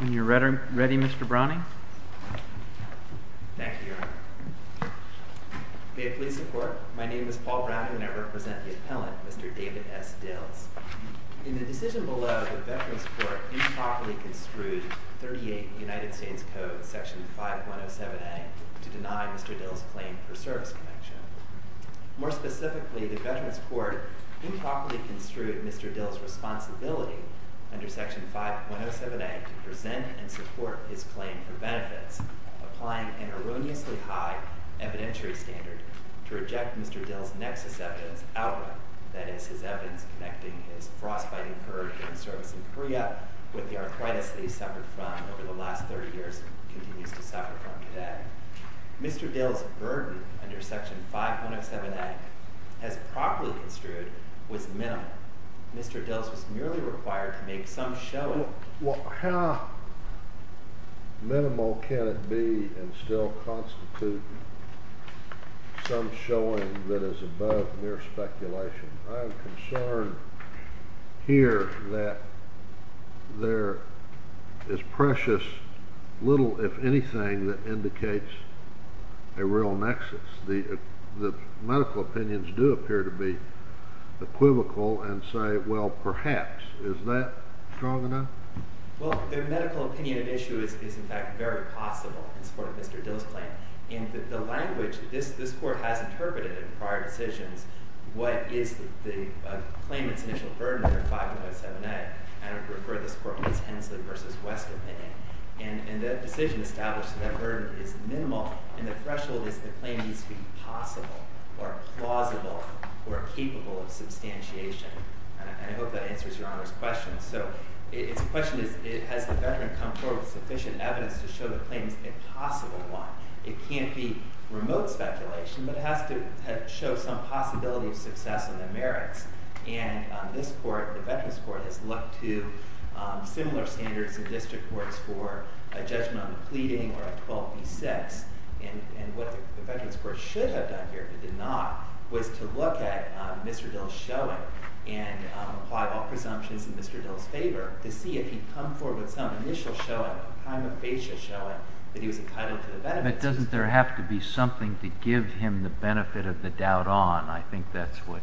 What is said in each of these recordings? Are you ready, Mr. Browning? Thank you, Your Honor. May it please the Court, my name is Paul Browning, and I represent the appellant, Mr. David S. Dills. In the decision below, the Veterans Court improperly construed 38 United States Code, Section 5107A, to deny Mr. Dills' claim for service connection. More specifically, the Veterans Court improperly construed Mr. Dills' responsibility under Section 5107A to present and support his claim for benefits, applying an erroneously high evidentiary standard to reject Mr. Dills' nexus evidence outright, that is, his evidence connecting his frostbite incurred during service in Korea with the arthritis that he suffered from over the last 30 years and continues to suffer from today. Mr. Dills' burden under Section 5107A, as properly construed, was minimal. Mr. Dills was merely required to make some showing— How minimal can it be and still constitute some showing that is above mere speculation? I'm concerned here that there is precious little, if anything, that indicates a real nexus. The medical opinions do appear to be equivocal and say, well, perhaps. Is that strong enough? Well, the medical opinion at issue is, in fact, very plausible in support of Mr. Dills' claim. In the language this Court has interpreted in prior decisions, what is the claimant's initial burden under 5107A? I would refer this Court to Ms. Hensley v. West's opinion. And the decision established that that burden is minimal and the threshold is the claim needs to be possible or plausible or capable of substantiation. And I hope that answers Your Honor's question. So the question is, has the veteran come forward with sufficient evidence to show the claim is a possible one? It can't be remote speculation, but it has to show some possibility of success in the merits. And this Court, the Veterans Court, has looked to similar standards in district courts for a judgment on the pleading or a 12b-6. And what the Veterans Court should have done here, but did not, was to look at Mr. Dills' showing and apply all presumptions in Mr. Dills' favor to see if he'd come forward with some initial showing, a prima facie showing, that he was entitled to the benefits. But doesn't there have to be something to give him the benefit of the doubt on? I think that's what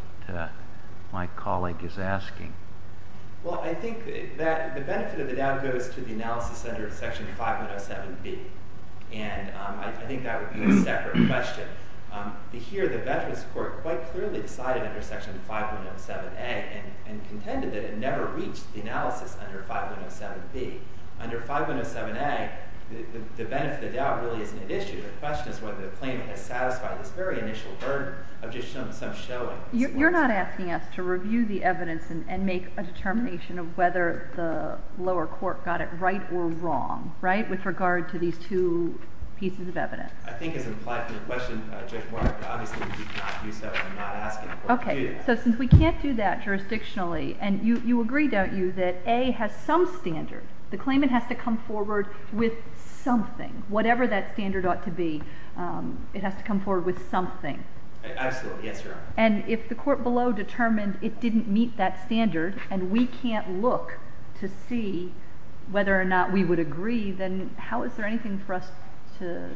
my colleague is asking. Well, I think that the benefit of the doubt goes to the analysis under Section 5107B. And I think that would be a separate question. Here, the Veterans Court quite clearly decided under Section 5107A and contended that it never reached the analysis under 5107B. Under 5107A, the benefit of doubt really isn't an issue. The question is whether the claimant has satisfied this very initial burden of just some showing. You're not asking us to review the evidence and make a determination of whether the lower court got it right or wrong, right? With regard to these two pieces of evidence. I think as implied in the question, Judge Mark, obviously we cannot do so by not asking the court to do that. Okay. So since we can't do that jurisdictionally, and you agree, don't you, that A has some standard. The claimant has to come forward with something, whatever that standard ought to be. It has to come forward with something. Absolutely. Yes, Your Honor. And if the court below determined it didn't meet that standard and we can't look to see whether or not we would agree, then how is there anything for us to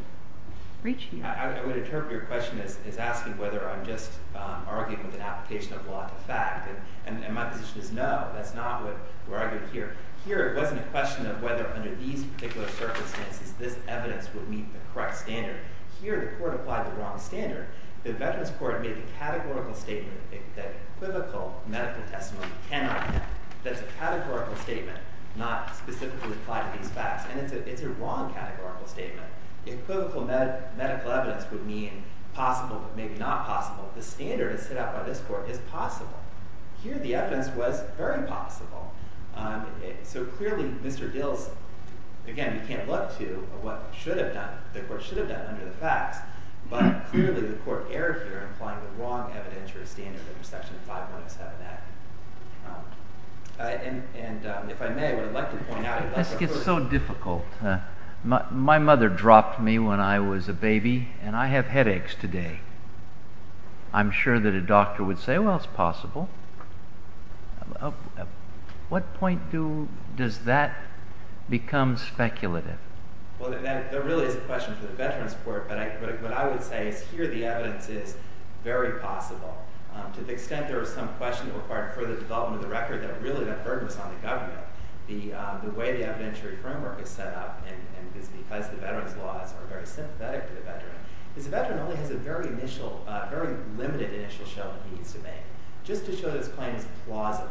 reach here? I would interpret your question as asking whether I'm just arguing with an application of law to fact. And my position is no, that's not what we're arguing here. Here, it wasn't a question of whether under these particular circumstances this evidence would meet the correct standard. Here, the court applied the wrong standard. The Veterans Court made a categorical statement that equivocal medical testimony cannot meet. That's a categorical statement not specifically applied to these facts. And it's a wrong categorical statement. Equivocal medical evidence would mean possible but maybe not possible. The standard that's set out by this court is possible. Here, the evidence was very possible. So clearly, Mr. Dills, again, you can't look to what should have done, the court should have done under the facts. But clearly, the court erred here in applying the wrong evidence for a standard under Section 5107A. And if I may, what I'd like to point out is that this gets so difficult. My mother dropped me when I was a baby, and I have headaches today. I'm sure that a doctor would say, well, it's possible. At what point does that become speculative? Well, there really is a question for the Veterans Court. But what I would say is here the evidence is very possible. To the extent there is some question required for the development of the record, that really that burden is on the government. The way the evidentiary framework is set up is because the veterans' laws are very sympathetic to the veteran. Because the veteran only has a very limited initial show that he needs to make just to show that his claim is plausible,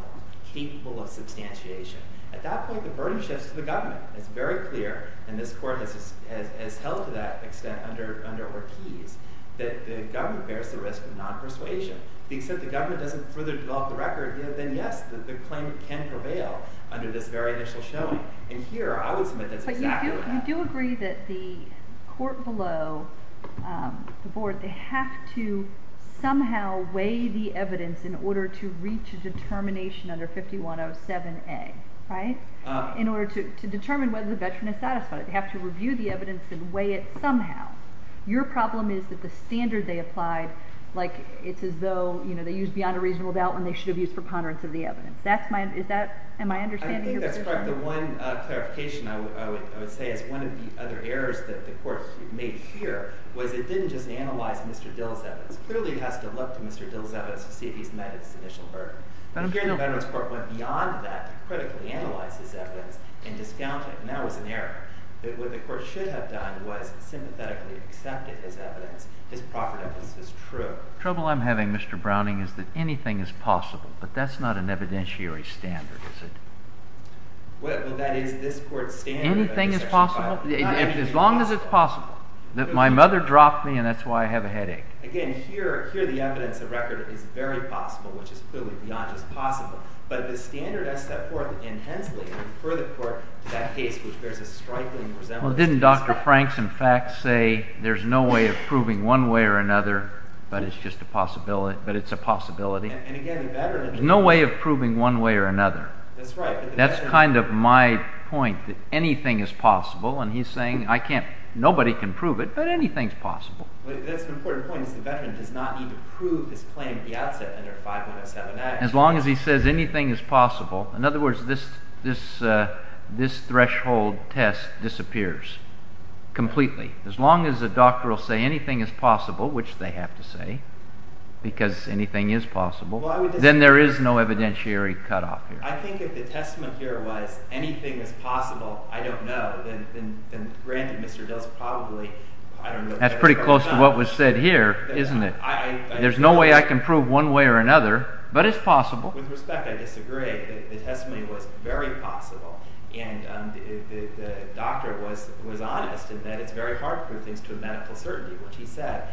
capable of substantiation. At that point, the burden shifts to the government. It's very clear, and this court has held to that extent under Ortiz, that the government bears the risk of non-persuasion. To the extent the government doesn't further develop the record, then yes, the claim can prevail under this very initial showing. And here, I would submit that's exactly what happened. But you do agree that the court below the board, they have to somehow weigh the evidence in order to reach a determination under 5107A, right? In order to determine whether the veteran is satisfied. They have to review the evidence and weigh it somehow. Your problem is that the standard they applied, it's as though they used beyond a reasonable doubt when they should have used preponderance of the evidence. Am I understanding you? I think that's correct. The one clarification I would say is one of the other errors that the court made here was it didn't just analyze Mr. Dill's evidence. Clearly it has to look to Mr. Dill's evidence to see if he's met his initial burden. Here, the Veterans Court went beyond that to critically analyze his evidence and discount it. And that was an error. What the court should have done was sympathetically accepted his evidence, his property as true. The trouble I'm having, Mr. Browning, is that anything is possible. But that's not an evidentiary standard, is it? Well, that is this court's standard. Anything is possible? As long as it's possible. My mother dropped me, and that's why I have a headache. Again, here the evidence of record is very possible, which is clearly beyond just possible. But the standard I step forth intensely and refer the court to that case, which bears a striking resemblance to this case. Well, didn't Dr. Franks, in fact, say there's no way of proving one way or another, but it's a possibility? And again, the Veterans Court— There's no way of proving one way or another. That's right. That's kind of my point, that anything is possible. And he's saying nobody can prove it, but anything's possible. That's an important point, is the veteran does not need to prove his claim at the outset under 5107A. As long as he says anything is possible. In other words, this threshold test disappears completely. As long as the doctor will say anything is possible, which they have to say, because anything is possible, then there is no evidentiary cutoff here. I think if the testament here was anything is possible, I don't know, then granted, Mr. Dills probably— That's pretty close to what was said here, isn't it? There's no way I can prove one way or another, but it's possible. With respect, I disagree. The testimony was very possible. And the doctor was honest in that it's very hard to prove things to a medical certainty, which he said.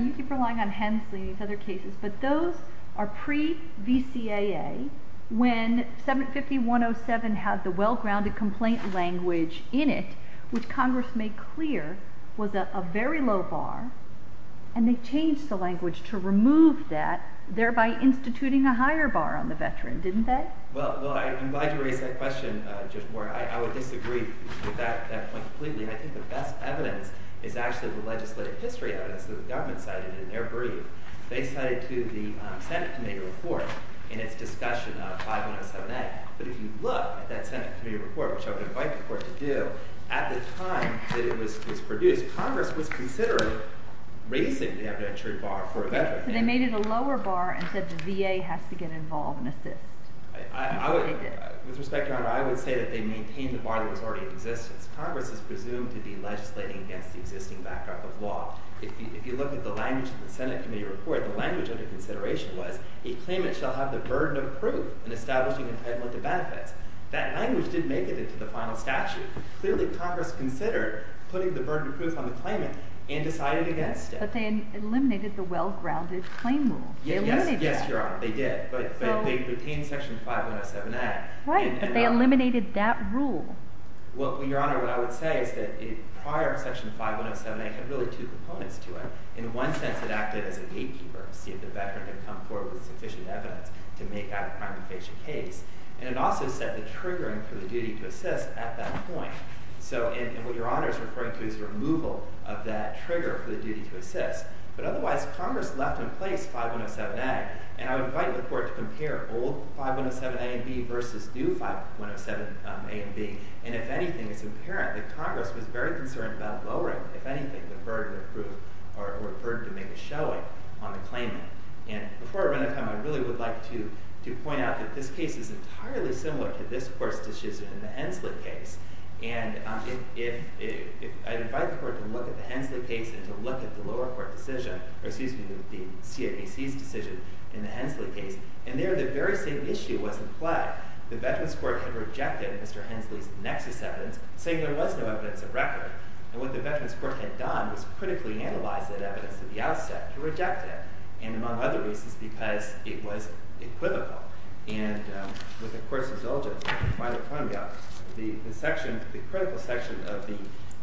You keep relying on Hensley and these other cases, but those are pre-VCAA, when 75107 had the well-grounded complaint language in it, which Congress made clear was a very low bar. And they changed the language to remove that, thereby instituting a higher bar on the veteran, didn't they? Well, I'm glad you raised that question, Judge Moore. I would disagree with that point completely. I think the best evidence is actually the legislative history evidence that the government cited in their brief. They cited to the Senate committee report in its discussion of 5107A. But if you look at that Senate committee report, which I would invite the court to do, at the time that it was produced, Congress was considering raising the evidentiary bar for a veteran. They made it a lower bar and said the VA has to get involved and assist. With respect, Your Honor, I would say that they maintained the bar that was already in existence. Congress is presumed to be legislating against the existing backdrop of law. If you look at the language in the Senate committee report, the language under consideration was a claimant shall have the burden of proof in establishing entitlement to benefits. That language didn't make it into the final statute. Clearly, Congress considered putting the burden of proof on the claimant and decided against it. But they eliminated the well-grounded claim rule. Yes, Your Honor, they did. But they retained Section 5107A. Right, but they eliminated that rule. Well, Your Honor, what I would say is that prior Section 5107A had really two components to it. In one sense, it acted as a gatekeeper to see if the veteran had come forward with sufficient evidence to make out a crime and face a case. And it also set the triggering for the duty to assist at that point. And what Your Honor is referring to is removal of that trigger for the duty to assist. But otherwise, Congress left in place 5107A. And I would invite the Court to compare old 5107A and B versus new 5107A and B. And if anything, it's apparent that Congress was very concerned about lowering, if anything, the burden of proof or the burden to make a showing on the claimant. And before I run out of time, I really would like to point out that this case is entirely similar to this Court's decision in the Hensley case. And I'd invite the Court to look at the Hensley case and to look at the lower court decision, or excuse me, the CIPC's decision in the Hensley case. And there, the very same issue was implied. The Veterans Court had rejected Mr. Hensley's nexus evidence, saying there was no evidence of record. And what the Veterans Court had done was critically analyze that evidence at the outset to reject it, and among other reasons, because it was equivocal. And with the Court's indulgence, I'd like to point out the critical section of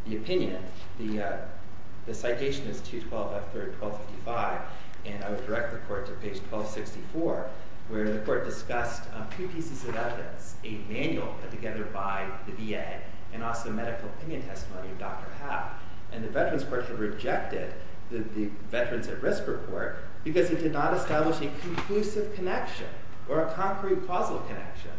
the opinion. The citation is 212F3-1255. And I would direct the Court to page 1264, where the Court discussed two pieces of evidence, a manual put together by the VA and also medical opinion testimony of Dr. Howe. And the Veterans Court had rejected the Veterans at Risk Report because it did not establish a conclusive connection or a concrete causal connection.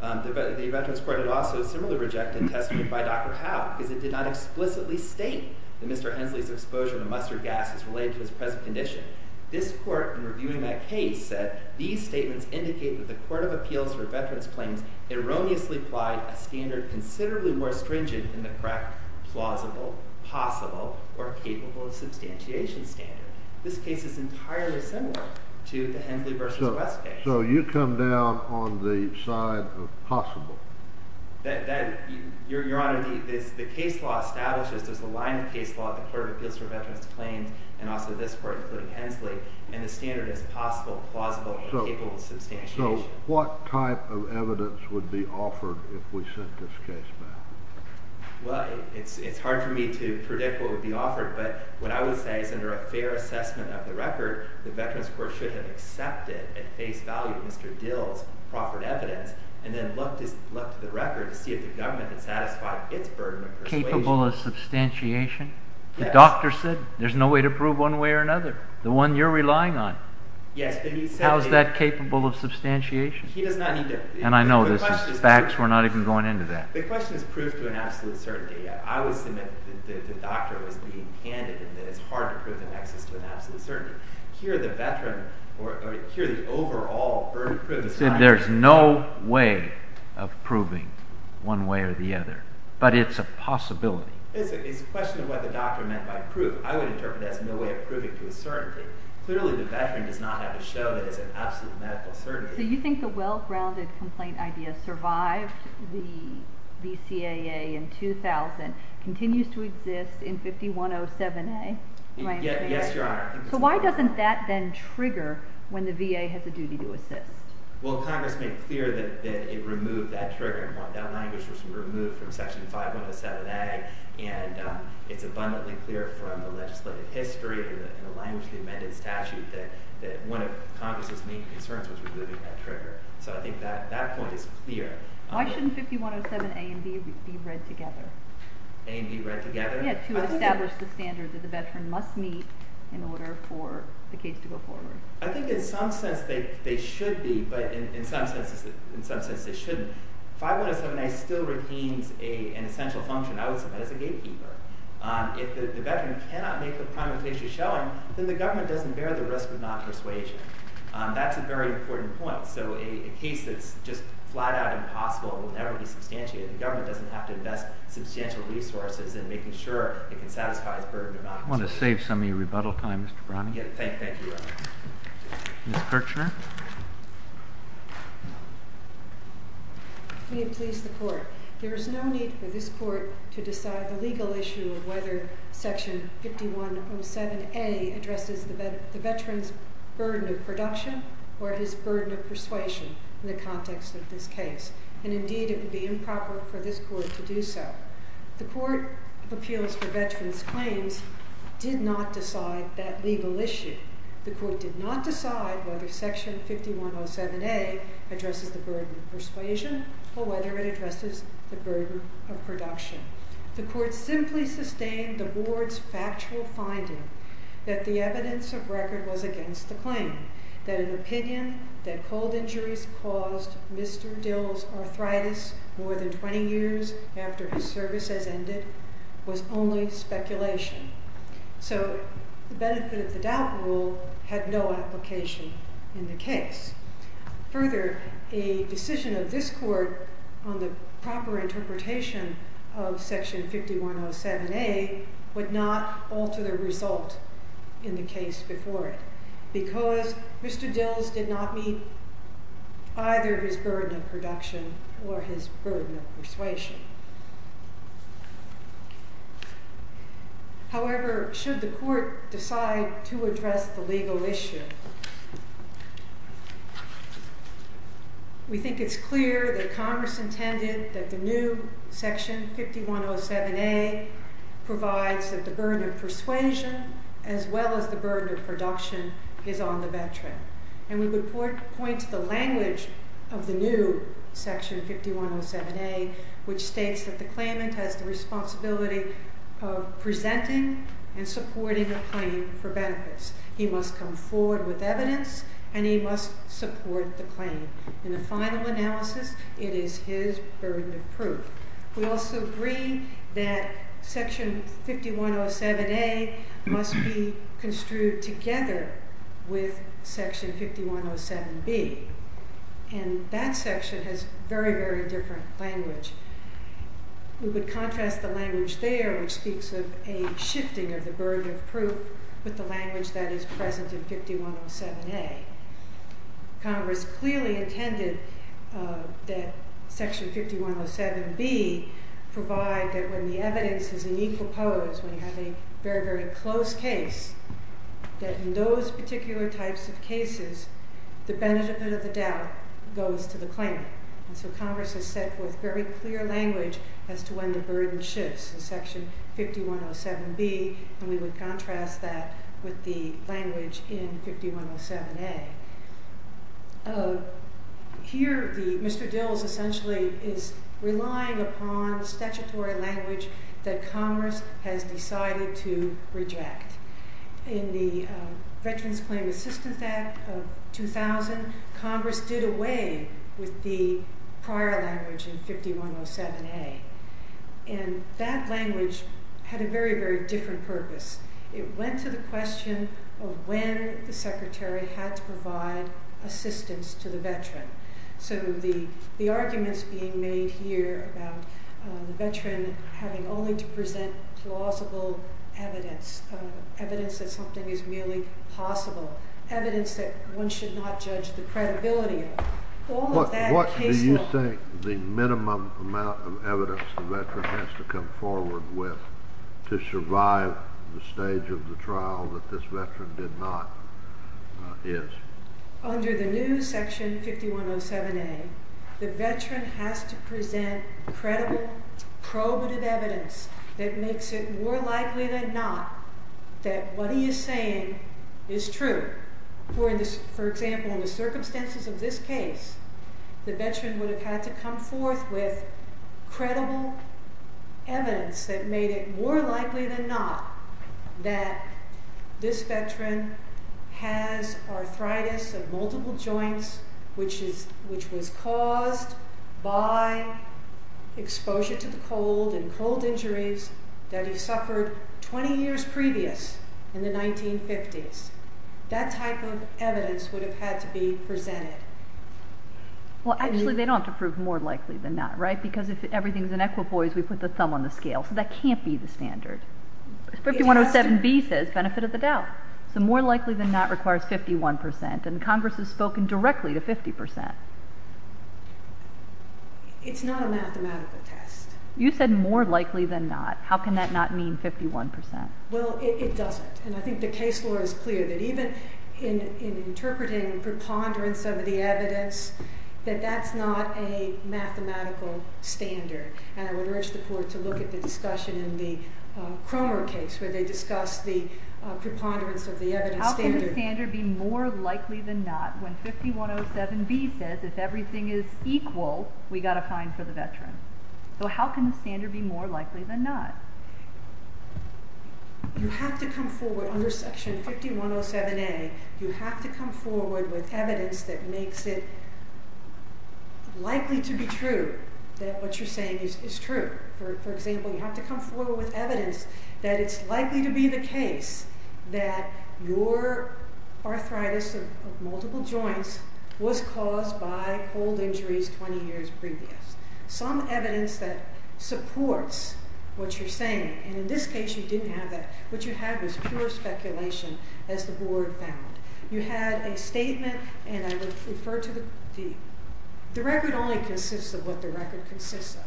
The Veterans Court had also similarly rejected testimony by Dr. Howe because it did not explicitly state that Mr. Hensley's exposure to mustard gas is related to his present condition. This Court, in reviewing that case, said, these statements indicate that the Court of Appeals for Veterans Claims erroneously applied a standard considerably more stringent than the correct plausible, possible, or capable of substantiation standard. This case is entirely similar to the Hensley v. West case. So you come down on the side of possible. Your Honor, the case law establishes there's a line of case law at the Court of Appeals for Veterans Claims and also this Court, including Hensley. And the standard is possible, plausible, or capable of substantiation. So what type of evidence would be offered if we sent this case back? Well, it's hard for me to predict what would be offered. But what I would say is under a fair assessment of the record, the Veterans Court should have accepted at face value Mr. Dill's proffered evidence and then looked at the record to see if the government had satisfied its burden of persuasion. Capable of substantiation? Yes. The doctor said there's no way to prove one way or another. The one you're relying on. Yes. How is that capable of substantiation? He does not need to. And I know this is facts. We're not even going into that. The question is proved to an absolute certainty. I would submit that the doctor was being candid and that it's hard to prove the nexus to an absolute certainty. Here the veteran, or here the overall burden of persuasion. He said there's no way of proving one way or the other. But it's a possibility. It's a question of what the doctor meant by proof. I would interpret that as no way of proving to a certainty. Clearly, the veteran does not have to show that it's an absolute medical certainty. So you think the well-grounded complaint idea survived the VCAA in 2000, continues to exist in 5107A? Yes, Your Honor. So why doesn't that then trigger when the VA has a duty to assist? Well, Congress made clear that it removed that trigger. That language was removed from Section 5107A. And it's abundantly clear from the legislative history and the language of the amended statute that one of Congress's main concerns was removing that trigger. So I think that point is clear. Why shouldn't 5107A and B be read together? A and B read together? Yes, to establish the standard that the veteran must meet in order for the case to go forward. I think in some sense they should be, but in some sense they shouldn't. 5107A still retains an essential function, I would submit, as a gatekeeper. If the veteran cannot make the primary case you're showing, then the government doesn't bear the risk of non-persuasion. That's a very important point. So a case that's just flat-out impossible will never be substantiated. The government doesn't have to invest substantial resources in making sure it can satisfy its burden of non-persuasion. I want to save some of your rebuttal time, Mr. Browning. Thank you, Your Honor. Ms. Kirchner. May it please the Court. There is no need for this Court to decide the legal issue of whether Section 5107A addresses the veteran's burden of production or his burden of persuasion in the context of this case. And, indeed, it would be improper for this Court to do so. The Court of Appeals for Veterans Claims did not decide that legal issue. The Court did not decide whether Section 5107A addresses the burden of persuasion or whether it addresses the burden of production. The Court simply sustained the Board's factual finding that the evidence of record was against the claim, that an opinion that cold injuries caused Mr. Dill's arthritis more than 20 years after his service has ended was only speculation. So the benefit of the doubt rule had no application in the case. Further, a decision of this Court on the proper interpretation of Section 5107A would not alter the result in the case before it because Mr. Dill's did not meet either his burden of production or his burden of persuasion. However, should the Court decide to address the legal issue, we think it's clear that Congress intended that the new Section 5107A provides that the burden of persuasion as well as the burden of production is on the veteran. And we would point to the language of the new Section 5107A which states that the claimant has the responsibility of presenting and supporting a claim for benefits. He must come forward with evidence and he must support the claim. In the final analysis, it is his burden of proof. We also agree that Section 5107A must be construed together with Section 5107B. And that section has very, very different language. We would contrast the language there which speaks of a shifting of the burden of proof with the language that is present in 5107A. Congress clearly intended that Section 5107B provide that when the evidence is in equal pose, when you have a very, very close case, that in those particular types of cases, the benefit of the doubt goes to the claimant. And so Congress has set forth very clear language as to when the burden shifts in Section 5107B and we would contrast that with the language in 5107A. Here Mr. Dills essentially is relying upon statutory language that Congress has decided to reject. In the Veterans Claim Assistance Act of 2000, Congress did away with the prior language in 5107A. And that language had a very, very different purpose. It went to the question of when the secretary had to provide assistance to the veteran. So the arguments being made here about the veteran having only to present plausible evidence, evidence that something is merely possible, evidence that one should not judge the credibility of, What do you think the minimum amount of evidence the veteran has to come forward with to survive the stage of the trial that this veteran did not is? Under the new Section 5107A, the veteran has to present credible, probative evidence that makes it more likely than not that what he is saying is true. For example, in the circumstances of this case, the veteran would have had to come forth with credible evidence that made it more likely than not that this veteran has arthritis of multiple joints, which was caused by exposure to the cold and cold injuries that he suffered 20 years previous in the 1950s. That type of evidence would have had to be presented. Well, actually, they don't have to prove more likely than not, right? Because if everything is in equipoise, we put the thumb on the scale. So that can't be the standard. 5107B says benefit of the doubt. So more likely than not requires 51 percent, and Congress has spoken directly to 50 percent. It's not a mathematical test. You said more likely than not. How can that not mean 51 percent? Well, it doesn't. And I think the case law is clear that even in interpreting preponderance of the evidence, that that's not a mathematical standard. And I would urge the Court to look at the discussion in the Cromer case where they discussed the preponderance of the evidence standard. How can the standard be more likely than not when 5107B says if everything is equal, we've got a fine for the veteran? So how can the standard be more likely than not? You have to come forward under Section 5107A. You have to come forward with evidence that makes it likely to be true that what you're saying is true. For example, you have to come forward with evidence that it's likely to be the case that your arthritis of multiple joints was caused by cold injuries 20 years previous. Some evidence that supports what you're saying. And in this case, you didn't have that. What you had was pure speculation, as the Board found. You had a statement, and I would refer to the... The record only consists of what the record consists of.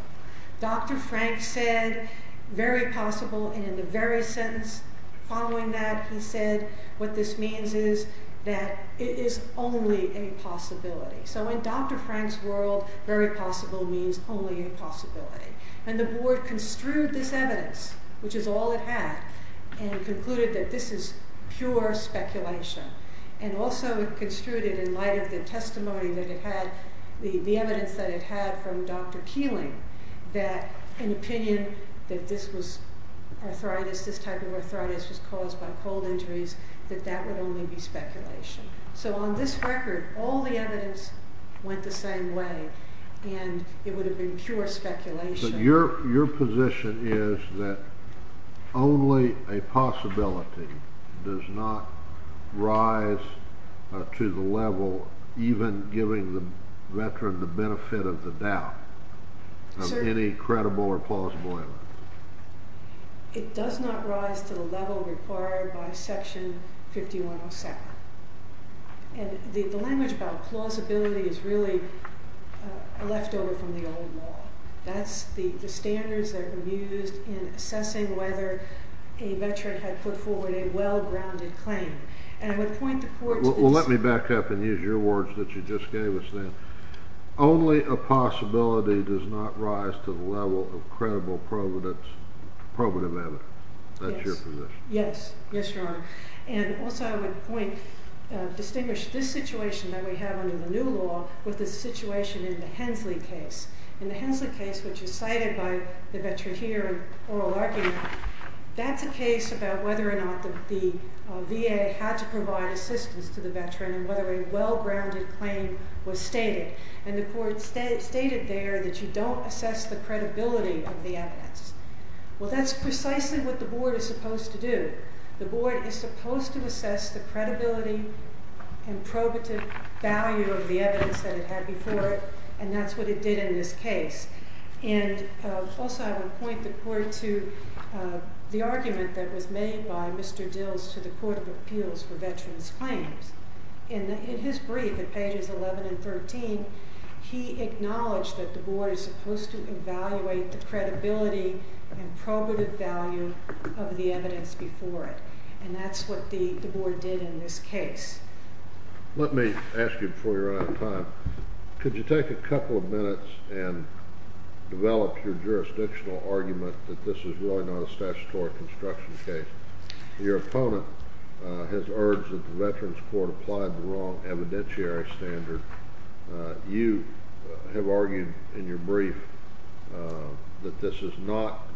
Dr. Frank said, very possible, and in the very sentence following that, he said what this means is that it is only a possibility. So in Dr. Frank's world, very possible means only a possibility. And the Board construed this evidence, which is all it had, and concluded that this is pure speculation. And also it construed it in light of the testimony that it had, the evidence that it had from Dr. Keeling, that an opinion that this was arthritis, this type of arthritis was caused by cold injuries, that that would only be speculation. So on this record, all the evidence went the same way, and it would have been pure speculation. So your position is that only a possibility does not rise to the level, even giving the veteran the benefit of the doubt of any credible or plausible evidence? It does not rise to the level required by Section 5107. And the language about plausibility is really left over from the old law. That's the standards that have been used in assessing whether a veteran had put forward a well-grounded claim. And I would point the court to this... Well, let me back up and use your words that you just gave us then. Only a possibility does not rise to the level of credible probative evidence. That's your position. Yes. Yes, Your Honor. And also I would point, distinguish this situation that we have under the new law with the situation in the Hensley case. In the Hensley case, which is cited by the veteran here in oral argument, that's a case about whether or not the VA had to provide assistance to the veteran in whether a well-grounded claim was stated. And the court stated there that you don't assess the credibility of the evidence. Well, that's precisely what the Board is supposed to do. The Board is supposed to assess the credibility and probative value of the evidence that it had before it, and that's what it did in this case. And also I would point the court to the argument that was made by Mr. Dills to the Court of Appeals for Veterans Claims. In his brief at pages 11 and 13, he acknowledged that the Board is supposed to evaluate the credibility and probative value of the evidence before it, and that's what the Board did in this case. Let me ask you before you run out of time, could you take a couple of minutes and develop your jurisdictional argument that this is really not a statutory construction case? Your opponent has urged that the Veterans Court apply the wrong evidentiary standard. You have argued in your brief that this is not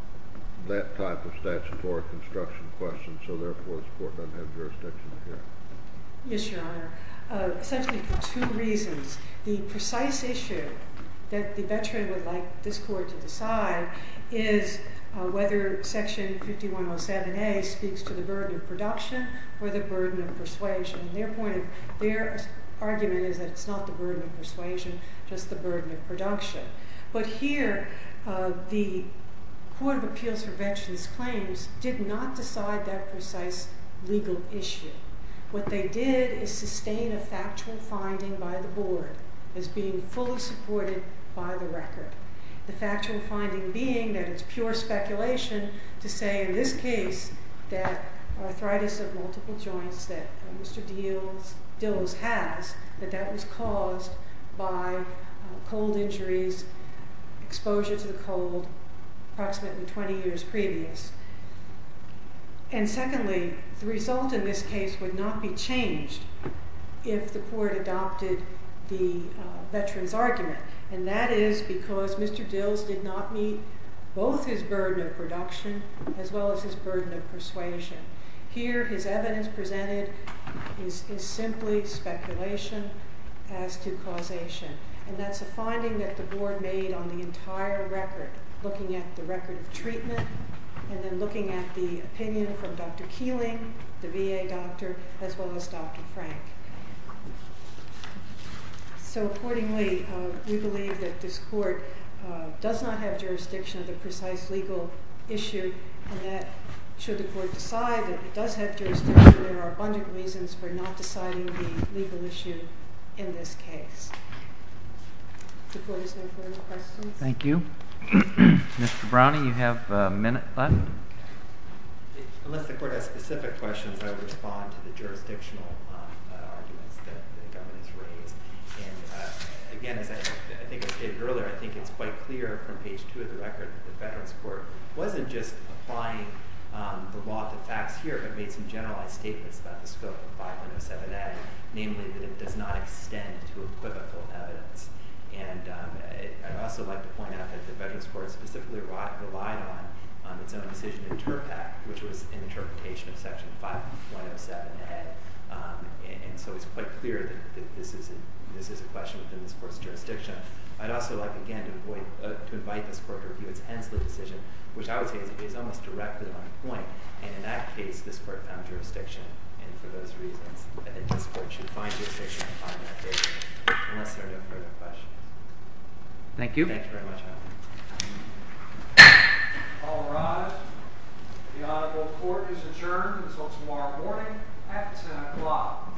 that type of statutory construction question, so therefore this court doesn't have jurisdiction here. Yes, Your Honor. Essentially for two reasons. The precise issue that the veteran would like this court to decide is whether Section 5107A speaks to the burden of production or the burden of persuasion. Their argument is that it's not the burden of persuasion, just the burden of production. But here the Court of Appeals for Veterans Claims did not decide that precise legal issue. What they did is sustain a factual finding by the Board as being fully supported by the record. The factual finding being that it's pure speculation to say in this case that arthritis of multiple joints that Mr. Dillis has, that that was caused by cold injuries, exposure to the cold, approximately 20 years previous. And secondly, the result in this case would not be changed if the court adopted the veteran's argument, and that is because Mr. Dillis did not meet both his burden of production as well as his burden of persuasion. Here his evidence presented is simply speculation as to causation, and that's a finding that the Board made on the entire record, looking at the record of treatment and then looking at the opinion from Dr. Keeling, the VA doctor, as well as Dr. Frank. So accordingly, we believe that this court does not have jurisdiction of the precise legal issue, and that should the court decide that it does have jurisdiction, there are abundant reasons for not deciding the legal issue in this case. The court is there for any questions? Thank you. Mr. Browning, you have a minute left. Unless the court has specific questions, I'll respond to the jurisdictional arguments that the government has raised. And again, as I think I stated earlier, I think it's quite clear from page 2 of the record that the Veterans Court wasn't just applying the law to facts here but made some generalized statements about the scope of 507A, namely that it does not extend to equivocal evidence. And I'd also like to point out that the Veterans Court specifically relied on its own decision in TURPAC, which was an interpretation of Section 507A. And so it's quite clear that this is a question within this court's jurisdiction. I'd also like, again, to invite this court to review its Hensley decision, which I would say is almost directly on point. And in that case, this court found jurisdiction. And for those reasons, I think this court should find jurisdiction on that case. Unless there are no further questions. Thank you. Thank you very much. All rise. The Honorable Court is adjourned until tomorrow morning at 10 o'clock.